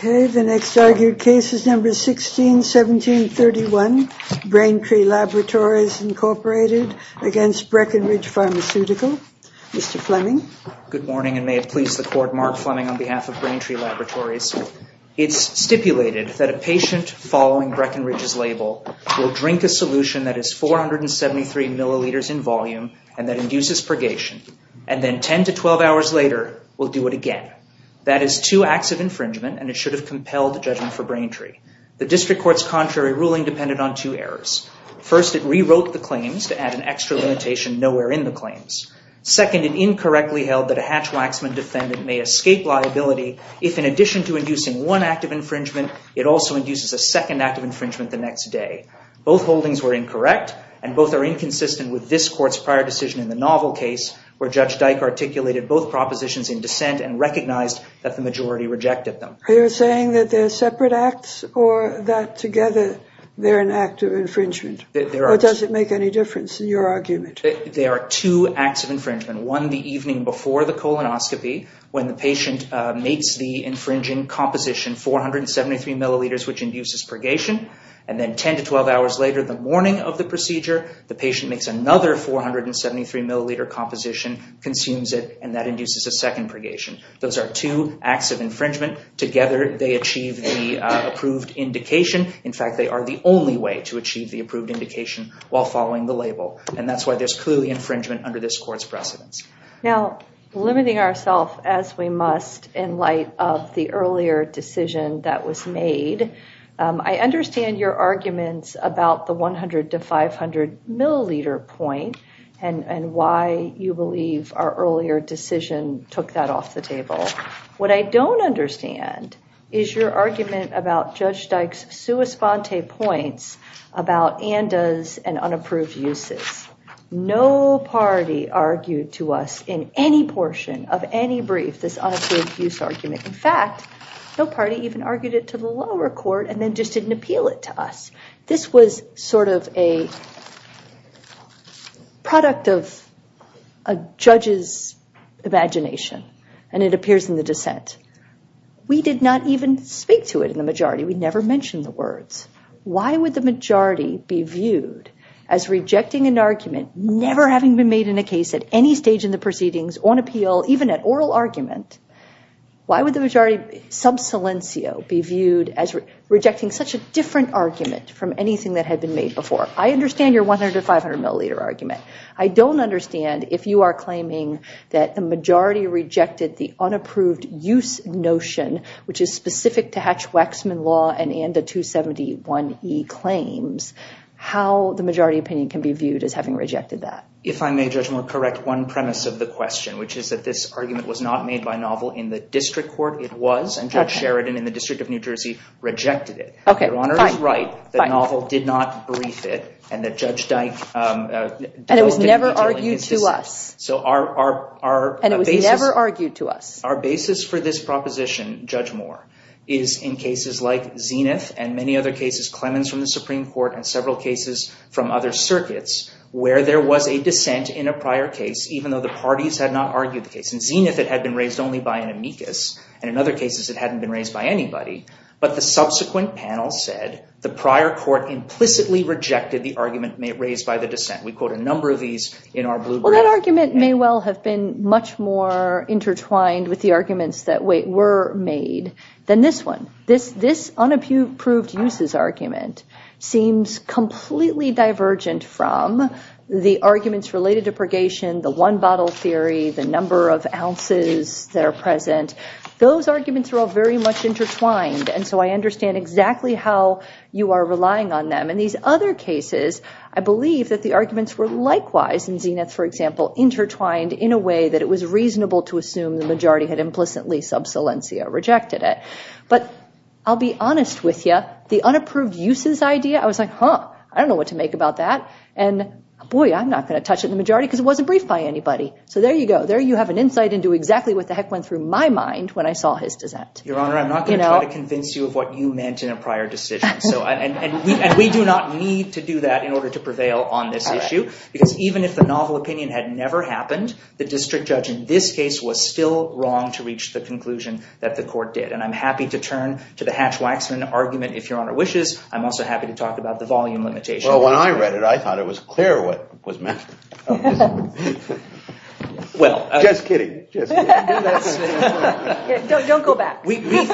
Good morning, and may it please the Court, Mark Fleming on behalf of Braintree Laboratories. It's stipulated that a patient following Breckenridge's label will drink a solution that is 473 milliliters in volume and that induces purgation, and then 10 to 12 hours later will do it again. That is two acts of infringement, and it should have compelled the judgment for Braintree. The district court's contrary ruling depended on two errors. First, it rewrote the claims to add an extra limitation nowhere in the claims. Second, it incorrectly held that a hatch-waxman defendant may escape liability if, in addition to inducing one act of infringement, it also induces a second act of infringement the next day. Both holdings were incorrect, and both are inconsistent with this Court's prior decision in the novel case, where Judge Dyke articulated both propositions in dissent and recognized that the majority rejected them. Are you saying that they're separate acts, or that together they're an act of infringement? Or does it make any difference in your argument? They are two acts of infringement. One, the evening before the colonoscopy, when the patient makes the infringing composition 473 milliliters, which induces purgation, and then 10 to 12 hours later, the morning of the procedure, the patient makes another 473 milliliter composition, consumes it, and that induces a second purgation. Those are two acts of infringement. Together they achieve the approved indication. In fact, they are the only way to achieve the approved indication while following the label. And that's why there's clear infringement under this Court's precedence. Now limiting ourselves, as we must, in light of the earlier decision that was made, I understand your arguments about the 100 to 500 milliliter point, and why you believe our earlier decision took that off the table. What I don't understand is your argument about Judge Dyke's sua sponte points about andas and unapproved uses. No party argued to us in any portion of any brief this unapproved use argument. In fact, no party even argued it to the lower court and then just didn't appeal it to us. This was sort of a product of a judge's imagination, and it appears in the dissent. We did not even speak to it in the majority. We never mentioned the words. Why would the majority be viewed as rejecting an argument never having been made in a case at any stage in the proceedings, on appeal, even at oral argument? Why would the majority sub silencio be viewed as rejecting such a different argument from anything that had been made before? I understand your 100 to 500 milliliter argument. I don't understand if you are claiming that the majority rejected the unapproved use notion, which is specific to Hatch-Waxman law and anda 271e claims, how the majority opinion can be viewed as having rejected that. If I may, Judge Moore, correct one premise of the question, which is that this argument was not made by Novel in the district court. It was, and Judge Sheridan in the District of New Jersey rejected it. Your Honor is right that Novel did not brief it and that Judge Dyke developed it in a generally consistent... And it was never argued to us. And it was never argued to us. Our basis for this proposition, Judge Moore, is in cases like Zenith and many other cases, Clemens from the Supreme Court and several cases from other circuits, where there was a dissent in a prior case, even though the parties had not argued the case. In Zenith, it had been raised only by an amicus, and in other cases, it hadn't been raised by anybody. But the subsequent panel said the prior court implicitly rejected the argument raised by the dissent. We quote a number of these in our blueprint. Well, that argument may well have been much more intertwined with the arguments that were made than this one. This unapproved uses argument seems completely divergent from the arguments related to purgation, the one bottle theory, the number of ounces that are present. Those arguments are all very much intertwined, and so I understand exactly how you are relying on them. In these other cases, I believe that the arguments were likewise in Zenith, for example, intertwined in a way that it was reasonable to assume the majority had implicitly sub salentia, rejected it. But I'll be honest with you, the unapproved uses idea, I was like, huh, I don't know what to make about that. And boy, I'm not going to touch it in the majority because it wasn't briefed by anybody. So there you go. There you have an insight into exactly what the heck went through my mind when I saw his dissent. Your Honor, I'm not going to try to convince you of what you meant in a prior decision. And we do not need to do that in order to prevail on this issue, because even if the novel opinion had never happened, the district judge in this case was still wrong to reach the conclusion that the court did. And I'm happy to turn to the Hatch-Waxman argument, if Your Honor wishes. I'm also happy to talk about the volume limitation. Well, when I read it, I thought it was clear what was meant. Well. Just kidding. Just kidding. Don't go back. We think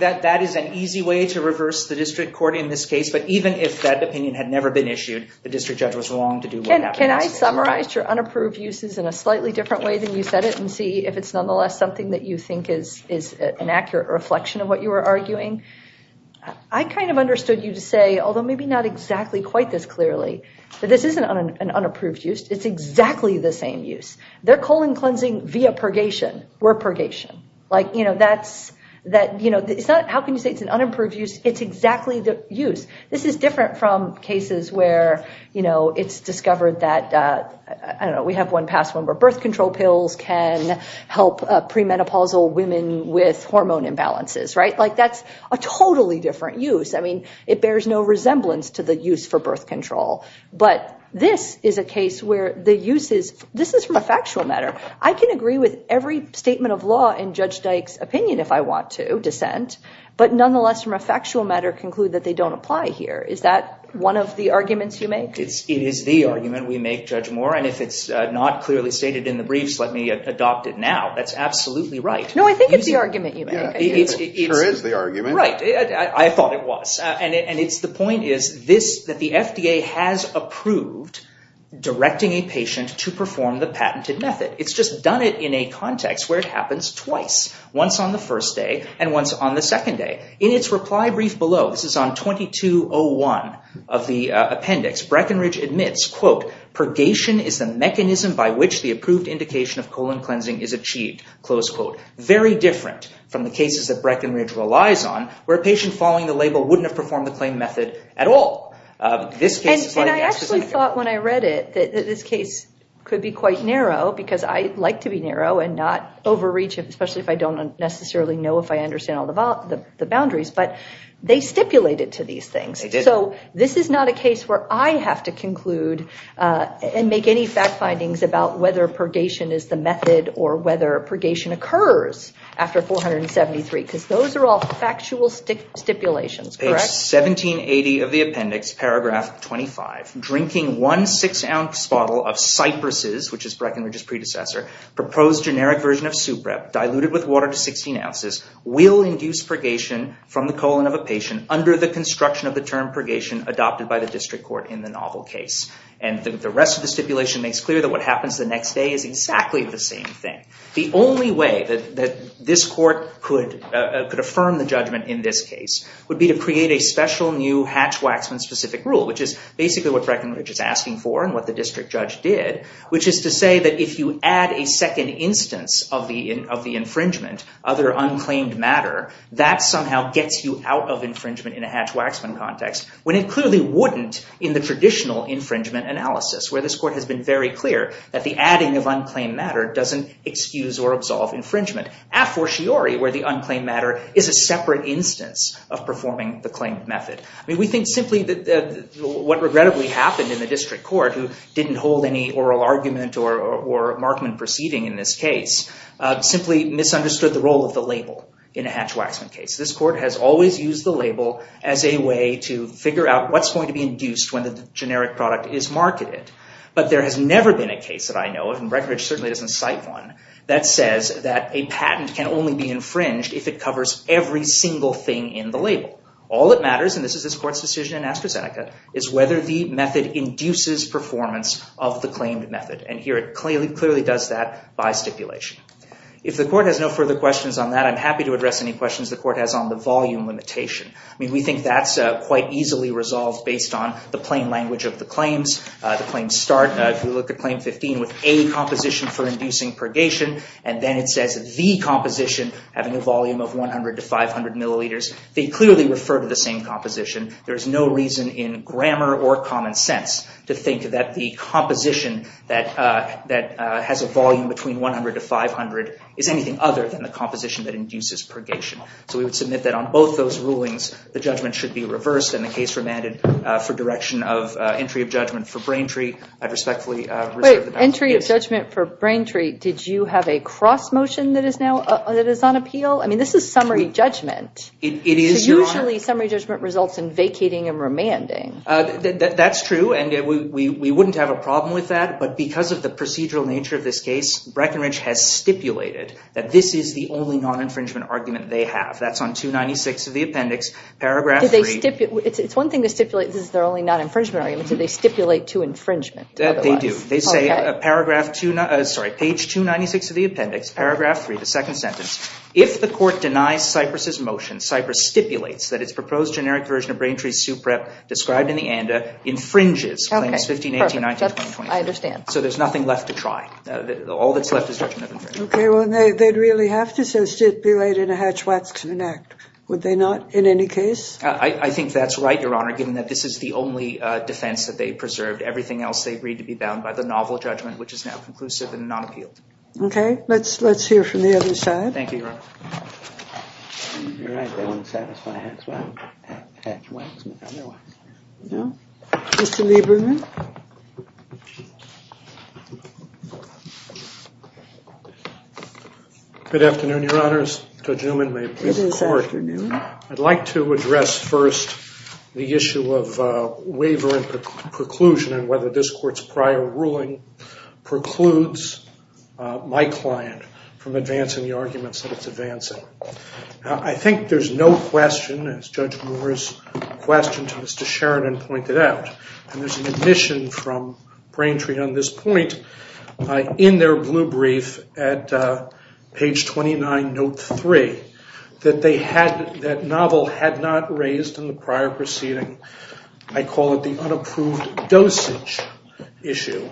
that that is an easy way to reverse the district court in this case. But even if that opinion had never been issued, the district judge was wrong to do what happened. Can I summarize your unapproved uses in a slightly different way than you said it and see if it's nonetheless something that you think is an accurate reflection of what you were arguing? I kind of understood you to say, although maybe not exactly quite this clearly, that this isn't an unapproved use. It's exactly the same use. They're colon cleansing via purgation. We're purgation. How can you say it's an unapproved use? It's exactly the use. This is different from cases where it's discovered that, I don't know, we have one past one where birth control pills can help premenopausal women with hormone imbalances. That's a totally different use. It bears no resemblance to the use for birth control. But this is a case where the use is, this is from a factual matter. I can agree with every statement of law in Judge Dyke's opinion, if I want to, dissent, but nonetheless from a factual matter conclude that they don't apply here. Is that one of the arguments you make? It is the argument we make, Judge Moore, and if it's not clearly stated in the briefs, let me adopt it now. That's absolutely right. No, I think it's the argument you make. It sure is the argument. Right. I thought it was. And it's the point is this, that the FDA has approved directing a patient to perform the patented method. It's just done it in a context where it happens twice, once on the first day and once on the second day. In its reply brief below, this is on 2201 of the appendix, Breckenridge admits, quote, purgation is the mechanism by which the approved indication of colon cleansing is achieved, close quote. Very different from the cases that Breckenridge relies on where a patient following the label wouldn't have performed the claim method at all. This case is very exquisite. I thought when I read it that this case could be quite narrow, because I like to be narrow and not overreach, especially if I don't necessarily know if I understand all the boundaries. But they stipulated to these things. So this is not a case where I have to conclude and make any fact findings about whether purgation is the method or whether purgation occurs after 473, because those are all factual stipulations. Page 1780 of the appendix, paragraph 25, drinking one six ounce bottle of Cyprus's, which is Breckenridge's predecessor, proposed generic version of Suprep diluted with water to 16 ounces will induce purgation from the colon of a patient under the construction of the term purgation adopted by the district court in the novel case. And the rest of the stipulation makes clear that what happens the next day is exactly the same thing. The only way that this court could affirm the judgment in this case would be to create a special new Hatch-Waxman specific rule, which is basically what Breckenridge is asking for and what the district judge did, which is to say that if you add a second instance of the infringement, other unclaimed matter, that somehow gets you out of infringement in a Hatch-Waxman context, when it clearly wouldn't in the traditional infringement analysis, where this court has been very clear that the adding of unclaimed matter doesn't excuse or absolve infringement. A fortiori, where the unclaimed matter is a separate instance of performing the claimed method. I mean, we think simply that what regrettably happened in the district court, who didn't hold any oral argument or markman proceeding in this case, simply misunderstood the role of the label in a Hatch-Waxman case. This court has always used the label as a way to figure out what's going to be induced when the generic product is marketed. But there has never been a case that I know of, and Breckenridge certainly doesn't cite one, that says that a patent can only be infringed if it covers every single thing in the label. All that matters, and this is this court's decision in AstraZeneca, is whether the method induces performance of the claimed method. And here it clearly does that by stipulation. If the court has no further questions on that, I'm happy to address any questions the court has on the volume limitation. I mean, we think that's quite easily resolved based on the plain language of the claims. The claims start, if we look at Claim 15, with a composition for inducing purgation, and then it says the composition, having a volume of 100 to 500 milliliters. They clearly refer to the same composition. There is no reason in grammar or common sense to think that the composition that has a volume between 100 to 500 is anything other than the composition that induces purgation. So we would submit that on both those rulings, the judgment should be reversed, and the case remanded for direction of entry of judgment for Braintree, I'd respectfully reserve the balance of the case. Wait. Entry of judgment for Braintree. Did you have a cross motion that is now, that is on appeal? I mean, this is summary judgment. It is, Your Honor. Usually summary judgment results in vacating and remanding. That's true, and we wouldn't have a problem with that, but because of the procedural nature of this case, Breckenridge has stipulated that this is the only non-infringement argument they have. That's on page 296 of the appendix, paragraph 3. It's one thing to stipulate this is their only non-infringement argument, so they stipulate to infringement. They do. They say, page 296 of the appendix, paragraph 3, the second sentence, if the court denies Cyprus's motion, Cyprus stipulates that its proposed generic version of Braintree's suprep described in the ANDA infringes claims 15, 18, 19, 20, 21. I understand. So there's nothing left to try. All that's left is judgment of infringement. Okay, well, they'd really have to so stipulate in a Hatch-Watson act, would they not, in any case? I think that's right, Your Honor, given that this is the only defense that they preserved. Everything else they agreed to be bound by the novel judgment, which is now conclusive and non-appealed. Okay, let's hear from the other side. Thank you, Your Honor. You're right, they wouldn't satisfy Hatch-Watson, otherwise. No? Mr. Lieberman? Good afternoon, Your Honors. Judge Newman, my appellate court. Good afternoon. I'd like to address first the issue of waiver and preclusion and whether this court's prior ruling precludes my client from advancing the arguments that it's advancing. I think there's no question, as Judge Moore's question to Mr. Sheridan pointed out, and there's an admission from Braintree on this point in their blue brief at page 29, note 3, that novel had not raised in the prior proceeding, I call it the unapproved dosage issue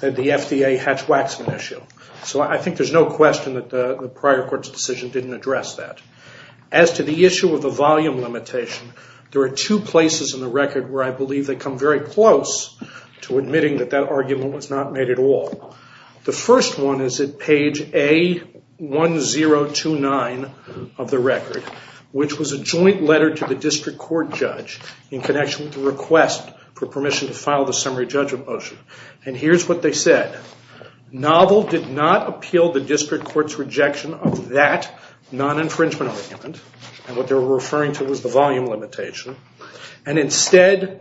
that the FDA Hatch-Watson issue. So I think there's no question that the prior court's decision didn't address that. As to the issue of the volume limitation, there are two places in the record where I was close to admitting that that argument was not made at all. The first one is at page A1029 of the record, which was a joint letter to the district court judge in connection with the request for permission to file the summary judgment motion. And here's what they said. Novel did not appeal the district court's rejection of that non-infringement argument, and what they were referring to was the volume limitation, and instead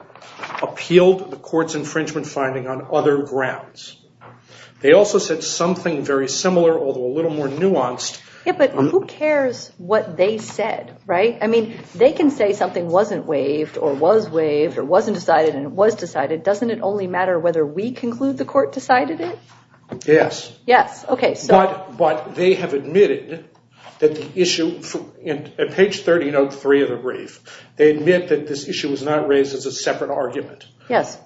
appealed the court's infringement finding on other grounds. They also said something very similar, although a little more nuanced. Yeah, but who cares what they said, right? I mean, they can say something wasn't waived, or was waived, or wasn't decided, and it was decided. Doesn't it only matter whether we conclude the court decided it? Yes. Yes, OK. But they have admitted that the issue, at page 1303 of the brief, they admit that this issue was not raised as a separate argument. Yes.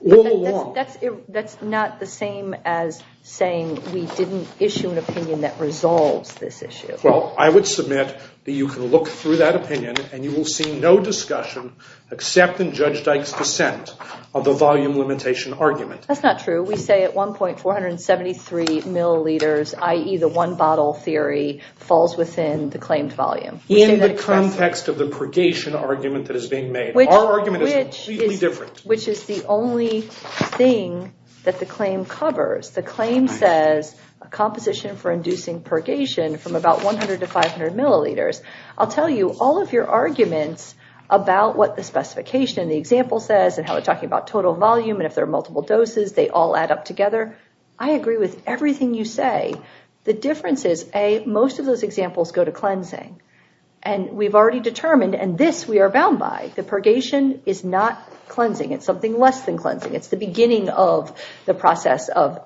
That's not the same as saying we didn't issue an opinion that resolves this issue. Well, I would submit that you can look through that opinion, and you will see no discussion except in Judge Dyke's dissent of the volume limitation argument. That's not true. We say at one point, 473 milliliters, i.e. the one-bottle theory, falls within the claimed volume. In the context of the purgation argument that is being made. Our argument is completely different. Which is the only thing that the claim covers. The claim says a composition for inducing purgation from about 100 to 500 milliliters. I'll tell you, all of your arguments about what the specification in the example says, and how they're talking about total volume, and if there are multiple doses, they all add up together. I agree with everything you say. The difference is, A, most of those examples go to cleansing. And we've already determined, and this we are bound by, the purgation is not cleansing. It's something less than cleansing. It's the beginning of the process of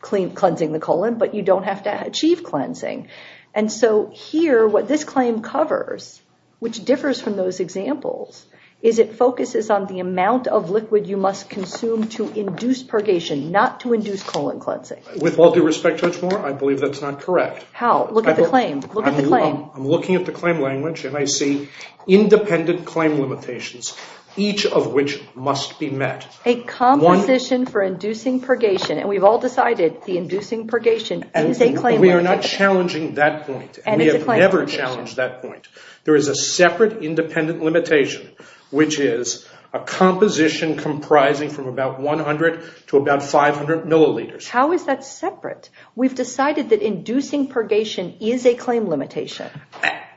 cleansing the colon. But you don't have to achieve cleansing. And so here, what this claim covers, which differs from those examples, is it focuses on the amount of liquid you must consume to induce purgation, not to induce colon cleansing. With all due respect, Judge Moore, I believe that's not correct. How? Look at the claim. Look at the claim. I'm looking at the claim language, and I see independent claim limitations, each of which must be met. A composition for inducing purgation, and we've all decided the inducing purgation is a claim. We are not challenging that point. And we have never challenged that point. There is a separate independent limitation, which is a composition comprising from about 100 to about 500 milliliters. How is that separate? We've decided that inducing purgation is a claim limitation.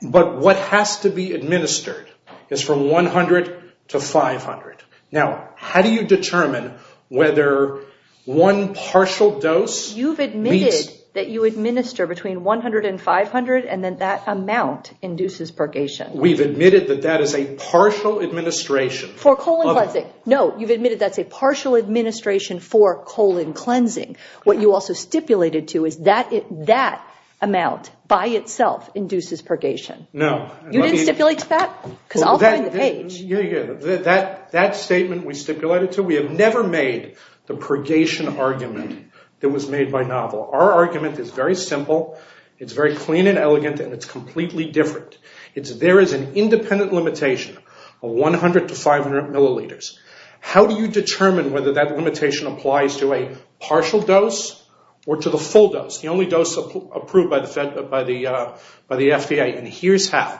But what has to be administered is from 100 to 500. Now, how do you determine whether one partial dose... You've admitted that you administer between 100 and 500, and then that amount induces purgation. We've admitted that that is a partial administration... For colon cleansing. No, you've admitted that's a partial administration for colon cleansing. What you also stipulated to is that that amount by itself induces purgation. No. You didn't stipulate to that? Because I'll find the page. Yeah, yeah, that statement we stipulated to, we have never made the purgation argument that was made by novel. Our argument is very simple. It's very clean and elegant, and it's completely different. It's there is an independent limitation of 100 to 500 milliliters. How do you determine whether that limitation applies to a partial dose or to the full dose? The only dose approved by the FDA, and here's how.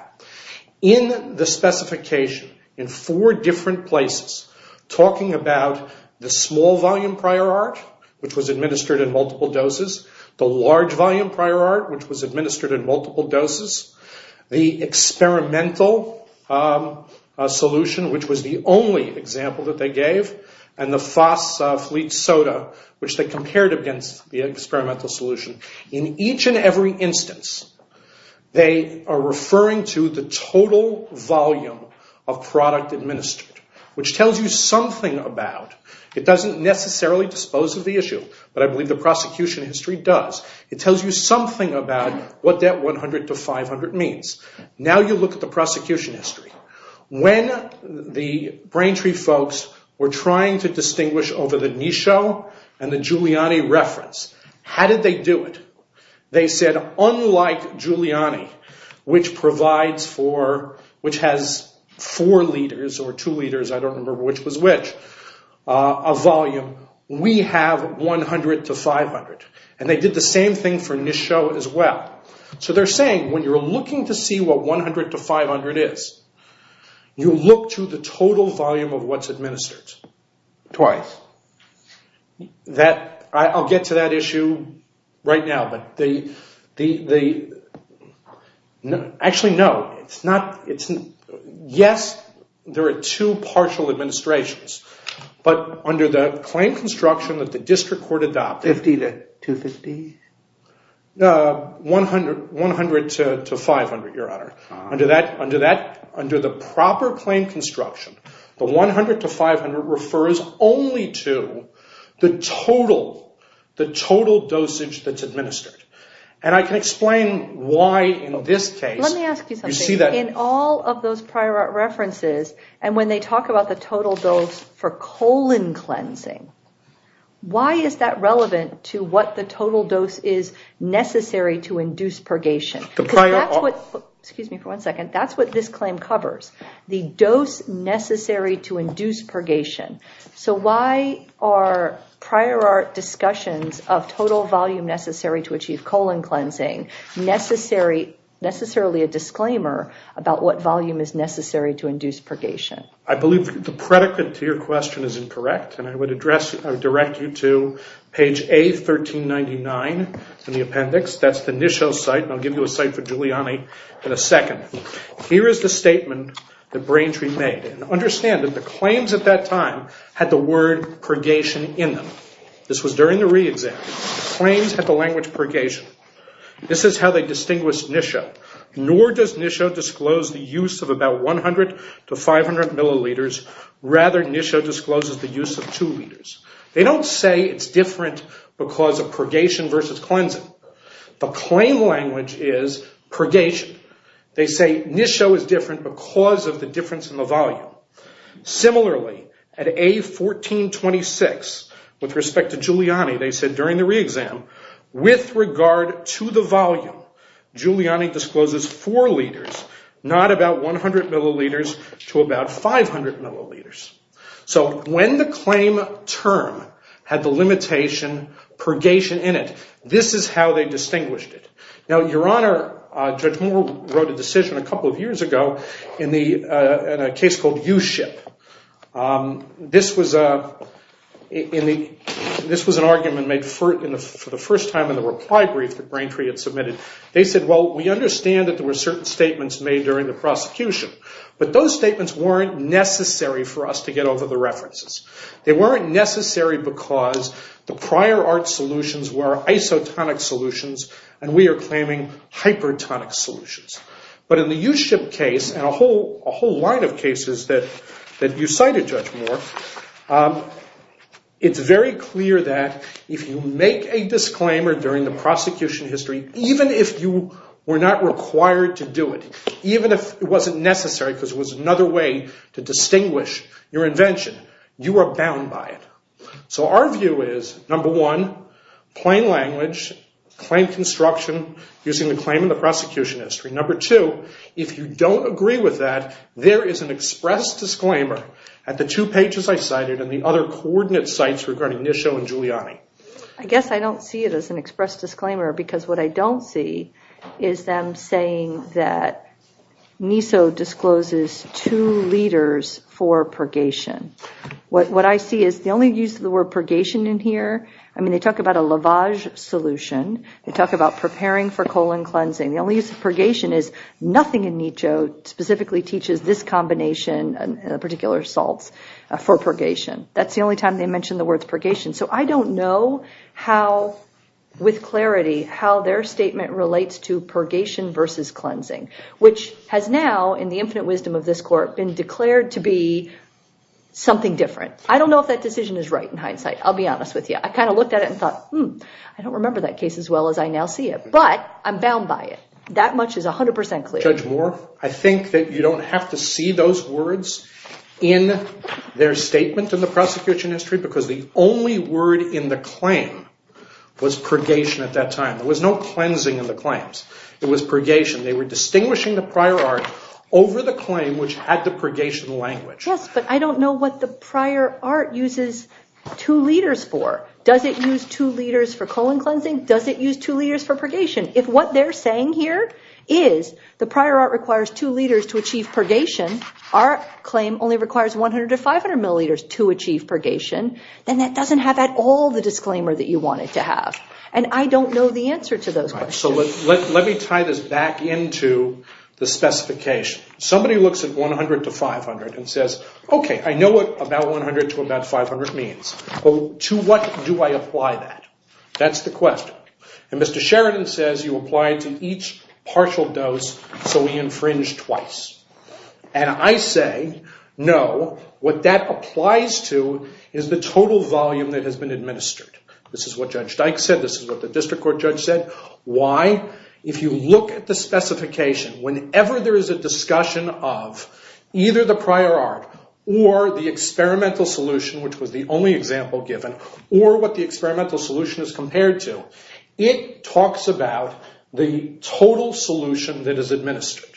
In the specification, in four different places, talking about the small volume prior art, which was administered in multiple doses, the large volume prior art, which was administered in multiple doses, the experimental solution, which was the only example that they gave, and the FOSS Fleet Soda, which they compared against the experimental solution. In each and every instance, they are referring to the total volume of product administered, which tells you something about... It doesn't necessarily dispose of the issue, but I believe the prosecution history does. It tells you something about what that 100 to 500 means. Now you look at the prosecution history. When the Braintree folks were trying to distinguish over the Nisho and the Giuliani reference, how did they do it? They said, unlike Giuliani, which provides for, which has four liters or two liters, I don't remember which was which, a volume, we have 100 to 500. And they did the same thing for Nisho as well. So they're saying, when you're looking to see what 100 to 500 is, you look to the total volume of what's administered twice. That, I'll get to that issue right now, but the... Actually, no, it's not... Yes, there are two partial administrations, but under the claim construction that the district court adopted... 50 to 250? 100 to 500, Your Honor. Under the proper claim construction, the 100 to 500 refers only to the total dosage that's administered. And I can explain why in this case... Let me ask you something. In all of those prior art references, and when they talk about the total dose for colon cleansing, why is that relevant to what the total dose is necessary to induce purgation? Because that's what, excuse me for one second, that's what this claim covers. The dose necessary to induce purgation. So why are prior art discussions of total volume necessary to achieve colon cleansing necessarily a disclaimer about what volume is necessary to induce purgation? I believe the predicate to your question is incorrect, and I would direct you to page A1399 in the appendix. That's the Nisho site, and I'll give you a site for Giuliani in a second. Here is the statement that Braintree made. Understand that the claims at that time had the word purgation in them. This was during the re-exam. Claims had the language purgation. This is how they distinguished Nisho. Nor does Nisho disclose the use of about 100 to 500 milliliters. Rather, Nisho discloses the use of two liters. They don't say it's different because of purgation versus cleansing. The claim language is purgation. They say Nisho is different because of the difference in the volume. Similarly, at A1426, with respect to Giuliani, they said during the re-exam, with regard to the volume, Giuliani discloses four liters, not about 100 milliliters to about 500 milliliters. So when the claim term had the limitation purgation in it, this is how they distinguished it. Now, Your Honor, Judge Moore wrote a decision a couple of years ago in a case called U-SHIP. This was an argument made for the first time in the reply brief that Braintree had submitted. They said, well, we understand that there were certain statements made during the prosecution, but those statements weren't necessary for us to get over the references. They weren't necessary because the prior art solutions were isotonic solutions, and we are claiming hypertonic solutions. But in the U-SHIP case, and a whole line of cases that you cited, Judge Moore, it's very clear that if you make a disclaimer during the prosecution history, even if you were not required to do it, even if it wasn't necessary because it was another way to distinguish your invention, you are bound by it. So our view is, number one, plain language, claim construction using the claim in the prosecution history. Number two, if you don't agree with that, there is an express disclaimer at the two pages I cited and the other coordinate sites regarding Nisho and Giuliani. I guess I don't see it as an express disclaimer because what I don't see is them saying that NISO discloses two leaders for purgation. What I see is the only use of the word purgation in here, I mean, they talk about a lavage solution. They talk about preparing for colon cleansing. The only use of purgation is nothing in NISO specifically teaches this combination of particular salts for purgation. That's the only time they mentioned the words purgation. So I don't know how, with clarity, how their statement relates to purgation versus cleansing, which has now, in the infinite wisdom of this court, been declared to be something different. I don't know if that decision is right in hindsight. I'll be honest with you. I kind of looked at it and thought, hmm, I don't remember that case as well as I now see it. But I'm bound by it. That much is 100% clear. Judge Moore, I think that you don't have to see those words in their statement in the prosecution history because the only word in the claim was purgation at that time. There was no cleansing in the claims. It was purgation. They were distinguishing the prior art over the claim, which had the purgation language. Yes, but I don't know what the prior art uses two liters for. Does it use two liters for colon cleansing? Does it use two liters for purgation? If what they're saying here is the prior art requires two liters to achieve purgation, our claim only requires 100 to 500 milliliters to achieve purgation, then that doesn't have at all the disclaimer that you want it to have. And I don't know the answer to those questions. So let me tie this back into the specification. Somebody looks at 100 to 500 and says, OK, I know what about 100 to about 500 means. To what do I apply that? That's the question. And Mr. Sheridan says you apply it to each partial dose so we infringe twice. And I say, no, what that applies to is the total volume that has been administered. This is what Judge Dyke said. This is what the district court judge said. Why? If you look at the specification, whenever there is a discussion of either the prior art or the experimental solution, which was the only example given, or what the experimental solution is compared to, it talks about the total solution that is administered.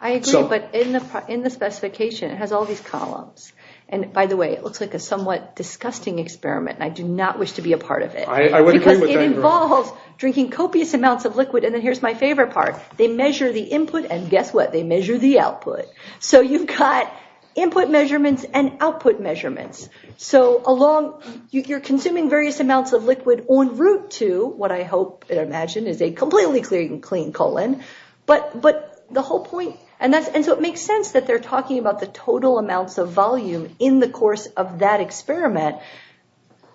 I agree, but in the specification, it has all these columns. And by the way, it looks like a somewhat disgusting experiment. I do not wish to be a part of it. I would agree with that. It involves drinking copious amounts of liquid. And then here's my favorite part. They measure the input, and guess what? They measure the output. So you've got input measurements and output measurements. So along, you're consuming various amounts of liquid en route to what I hope and imagine is a completely clean colon. But the whole point, and so it makes sense that they're talking about the total amounts of volume in the course of that experiment.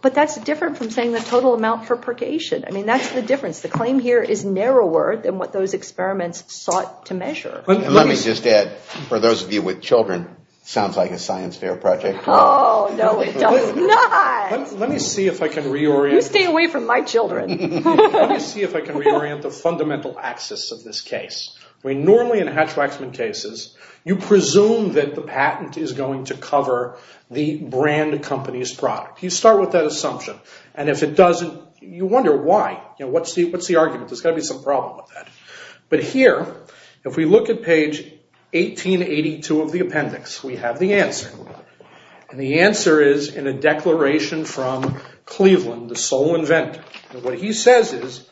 But that's different from saying the total amount for purgation. I mean, that's the difference. The claim here is narrower than what those experiments sought to measure. Let me just add, for those of you with children, sounds like a science fair project. Oh, no, it does not. Let me see if I can reorient. You stay away from my children. Let me see if I can reorient the fundamental axis of this case. We normally, in Hatch-Waxman cases, you presume that the patent is going to cover the brand company's product. You start with that assumption. And if it doesn't, you wonder why. What's the argument? There's got to be some problem with that. But here, if we look at page 1882 of the appendix, we have the answer. And the answer is in a declaration from Cleveland, the sole inventor. What he says is,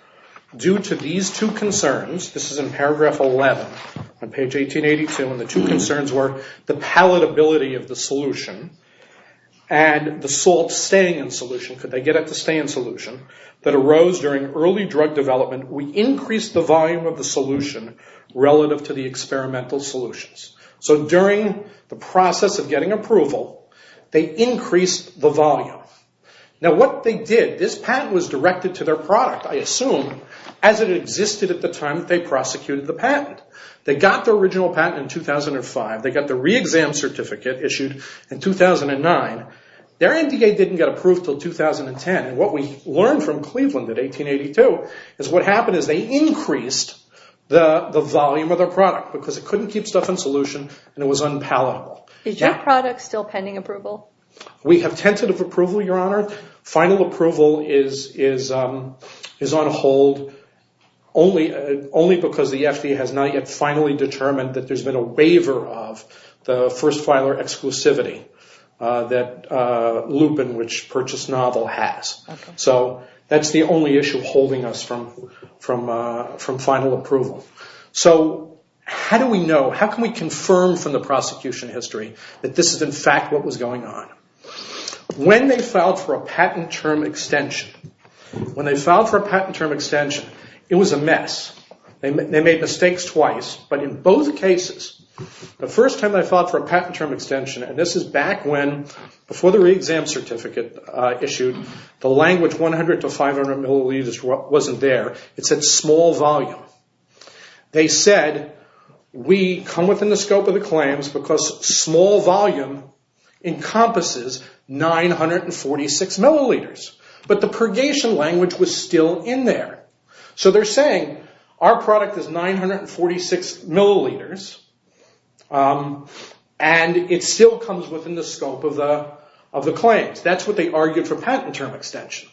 due to these two concerns, this is in paragraph 11 on page 1882, and the two concerns were the palatability of the solution and the salt staying in solution. Could they get it to stay in solution? That arose during early drug development. We increased the volume of the solution relative to the experimental solutions. So during the process of getting approval, they increased the volume. Now, what they did, this patent was directed to their product, I assume, as it existed at the time that they prosecuted the patent. They got the original patent in 2005. They got the re-exam certificate issued in 2009. Their NDA didn't get approved until 2010. And what we learned from Cleveland in 1882 is what happened is they increased the volume of their product because it couldn't keep stuff in solution, and it was unpalatable. Is your product still pending approval? We have tentative approval, Your Honor. Final approval is on hold only because the FDA has not yet finally determined that there's been a waiver of the first filer exclusivity, that Lupin, which purchased novel, has. So that's the only issue holding us from final approval. So how do we know? How can we confirm from the prosecution history that this is, in fact, what was going on? When they filed for a patent term extension, when they filed for a patent term extension, it was a mess. They made mistakes twice. But in both cases, the first time they filed for a patent term extension, and this is back when, before the re-exam certificate issued, the language 100 to 500 milliliters wasn't there. It said small volume. They said, we come within the scope of the claims because small volume encompasses 946 milliliters. But the purgation language was still in there. So they're saying, our product is 946 milliliters, and it still comes within the scope of the claims. That's what they argued for patent term extension.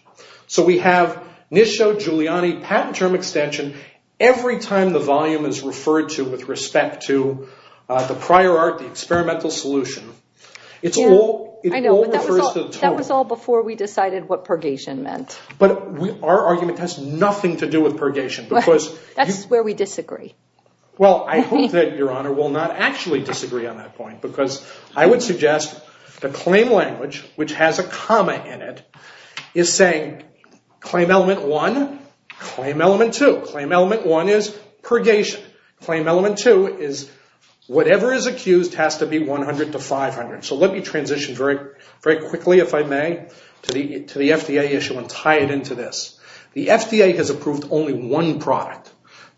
So we have Nisho, Giuliani, patent term extension. Every time the volume is referred to with respect to the prior art, the experimental solution, it all refers to the term. That was all before we decided what purgation meant. But our argument has nothing to do with purgation. That's where we disagree. Well, I hope that Your Honor will not actually disagree on that point because I would suggest the claim language, which has a comma in it, is saying claim element one, claim element two. Claim element one is purgation. Claim element two is whatever is accused has to be 100 to 500. So let me transition very quickly, if I may, to the FDA issue and tie it into this. The FDA has approved only one product.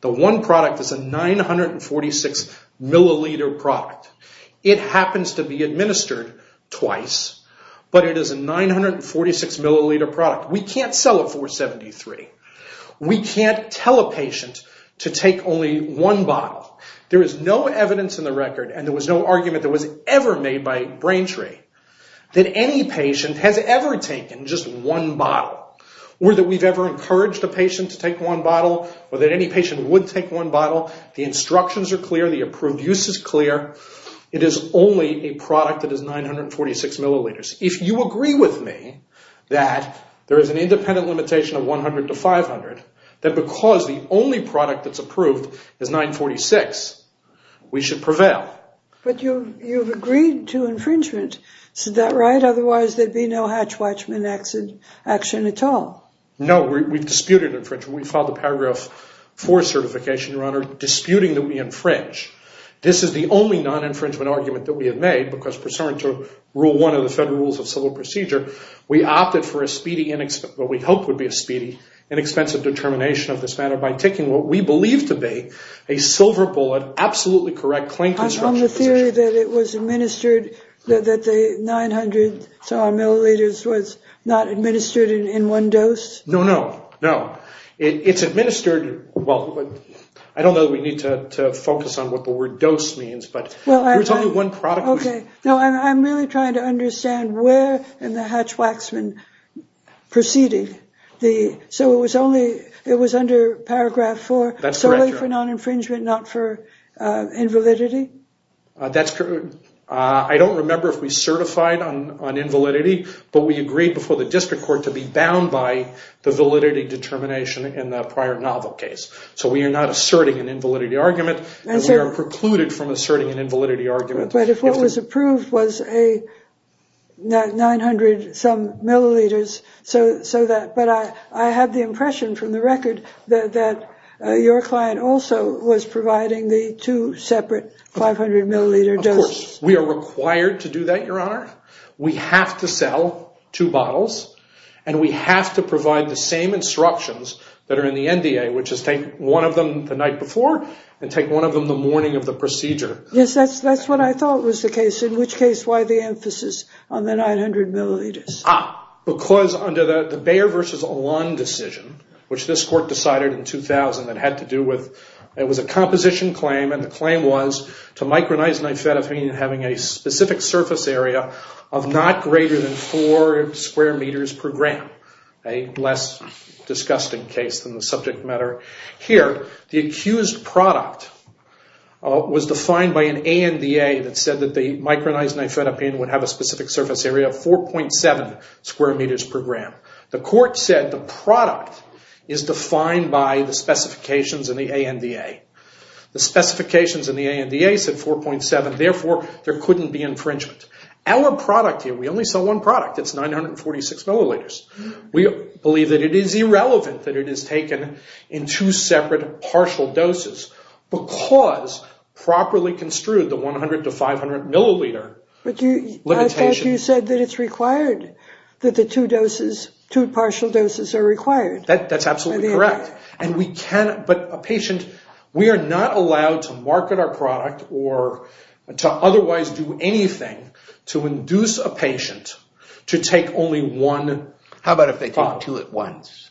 The one product is a 946 milliliter product. It happens to be administered twice, but it is a 946 milliliter product. We can't sell it for 73. We can't tell a patient to take only one bottle. There is no evidence in the record, and there was no argument that was ever made by Braintree, that any patient has ever taken just one bottle, or that we've ever encouraged a patient to take one bottle, or that any patient would take one bottle. The instructions are clear. The approved use is clear. It is only a product that is 946 milliliters. If you agree with me that there is an independent limitation of 100 to 500, then because the only product that's approved is 946, we should prevail. But you've agreed to infringement. Is that right? Otherwise, there'd be no Hatch Watchman action at all. No, we've disputed infringement. We filed a paragraph for certification, Your Honor, disputing that we infringe. This is the only non-infringement argument that we have made, because pursuant to rule one of the federal rules of civil procedure, we opted for a speedy, what we hoped would be a speedy, inexpensive determination of this matter by taking what we believe to be a silver bullet, absolutely correct, claim construction position. On the theory that it was administered, that the 900-some-odd milliliters was not No, no, no. It's administered, well, I don't know that we need to focus on what the word dose means, but there was only one product. No, I'm really trying to understand where in the Hatch Watchman proceeded the, so it was only, it was under paragraph four, solely for non-infringement, not for invalidity? That's correct. I don't remember if we certified on invalidity, but we agreed before the district court to be bound by the validity determination in the prior novel case. So we are not asserting an invalidity argument, and we are precluded from asserting an invalidity argument. But if what was approved was a 900-some milliliters, so that, but I had the impression from the record that your client also was providing the two separate 500-milliliter doses. Of course, we are required to do that, Your Honor. We have to sell two bottles, and we have to provide the same instructions that are in the NDA, which is take one of them the night before, and take one of them the morning of the procedure. Yes, that's what I thought was the case, in which case, why the emphasis on the 900 milliliters? Ah, because under the Bayer versus Alon decision, which this court decided in 2000 that had to do with, it was a composition claim, and the claim was to micronized nifedipine having a specific surface area of not greater than four square meters per gram, a less disgusting case than the subject matter here. The accused product was defined by an ANDA that said that the micronized nifedipine would have a specific surface area of 4.7 square meters per gram. The court said the product is defined by the specifications in the ANDA. The specifications in the ANDA said 4.7, therefore, there couldn't be infringement. Our product here, we only sell one product. It's 946 milliliters. We believe that it is irrelevant that it is taken in two separate partial doses, because properly construed, the 100 to 500 milliliter limitation. But I thought you said that it's required that the two doses, two partial doses are required. That's absolutely correct, and we can, but a patient, we are not allowed to market our product or to otherwise do anything to induce a patient to take only one product. How about if they take two at once?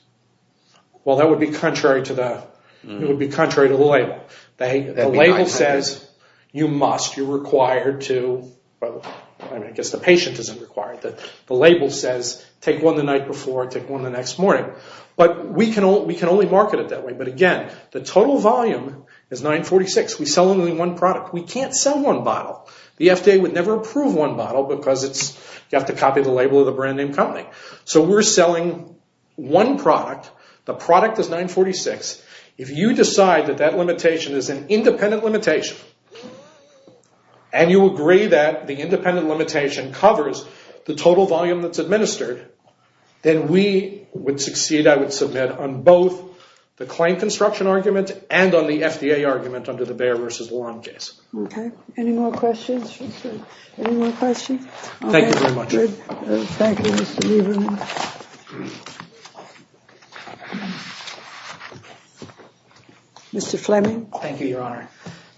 Well, that would be contrary to the label. The label says you must, you're required to, well, I guess the patient isn't required. The label says take one the night before, take one the next morning. But we can only market it that way. But again, the total volume is 946. We sell only one product. We can't sell one bottle. The FDA would never approve one bottle because you have to copy the label of the brand name company. So we're selling one product. The product is 946. If you decide that that limitation is an independent limitation, and you agree that the independent limitation covers the total volume that's administered, then we would succeed, I would submit, on both the claim construction argument and on the FDA argument under the Bayer v. Warren case. Okay, any more questions? Any more questions? Thank you very much. Thank you, Mr. Lieberman. Mr. Fleming. Thank you, Your Honor.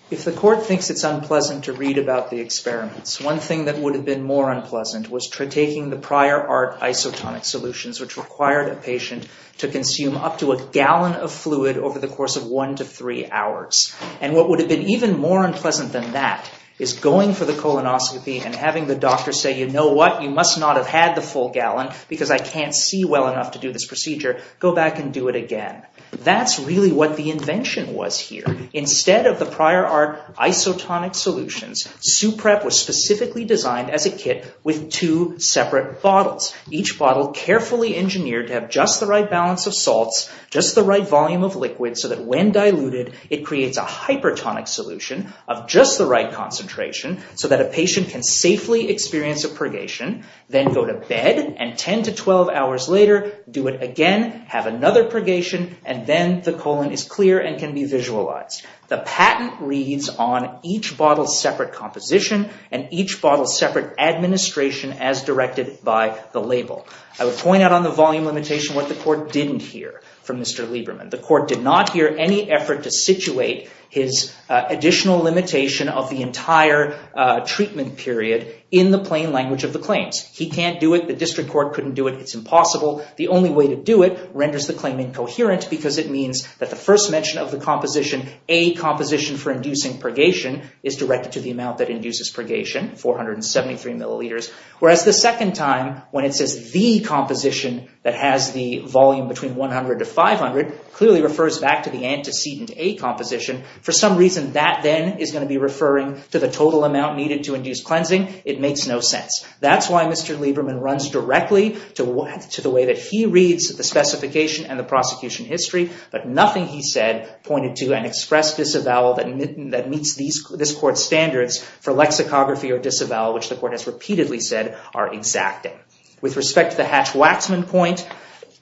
If the court thinks it's unpleasant to read about the experiments, one thing that would have been more unpleasant was taking the prior art isotonic solutions, which required a patient to consume up to a gallon of fluid over the course of one to three hours. And what would have been even more unpleasant than that is going for the colonoscopy and having the doctor say, you know what, you must not have had the full gallon because I can't see well enough to do this procedure. Go back and do it again. That's really what the invention was here. Instead of the prior art isotonic solutions, Suprep was specifically designed as a kit with two separate bottles. Each bottle carefully engineered to have just the right balance of salts, just the right volume of liquid so that when diluted, it creates a hypertonic solution of just the right concentration so that a patient can safely experience a purgation. Then go to bed and 10 to 12 hours later, do it again, have another purgation, and then the colon is clear and can be visualized. The patent reads on each bottle's separate composition and each bottle's separate administration as directed by the label. I would point out on the volume limitation what the court didn't hear from Mr. Lieberman. The court did not hear any effort to situate his additional limitation of the entire treatment period in the plain language of the claims. He can't do it. The district court couldn't do it. It's impossible. The only way to do it renders the claim incoherent because it means that the first mention of the composition, a composition for inducing purgation is directed to the amount that induces purgation, 473 milliliters, whereas the second time when it says the composition that has the volume between 100 to 500 clearly refers back to the antecedent A composition. For some reason, that then is gonna be referring to the total amount needed to induce cleansing. It makes no sense. That's why Mr. Lieberman runs directly to the way that he reads the specification and the prosecution history, but nothing he said pointed to an express disavowal that meets this court's standards for lexicography or disavowal, which the court has repeatedly said are exacting. With respect to the Hatch-Waxman point,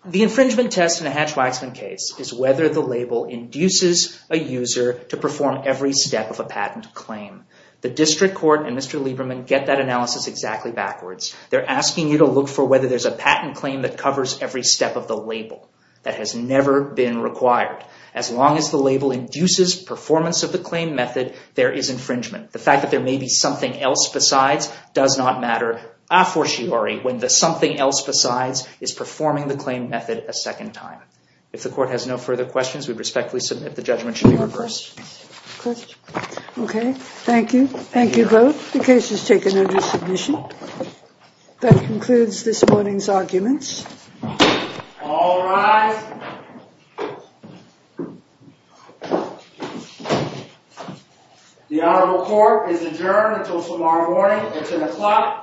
the infringement test in a Hatch-Waxman case is whether the label induces a user to perform every step of a patent claim. The district court and Mr. Lieberman get that analysis exactly backwards. They're asking you to look for whether there's a patent claim that covers every step of the label. That has never been required. As long as the label induces performance of the claim method, there is infringement. The fact that there may be something else besides does not matter a fortiori when the something else besides is performing the claim method a second time. If the court has no further questions, we respectfully submit the judgment should be reversed. Questions? Okay, thank you. Thank you both. The case is taken under submission. That concludes this morning's arguments. All rise. The honorable court is adjourned until tomorrow morning. It's an o'clock a.m.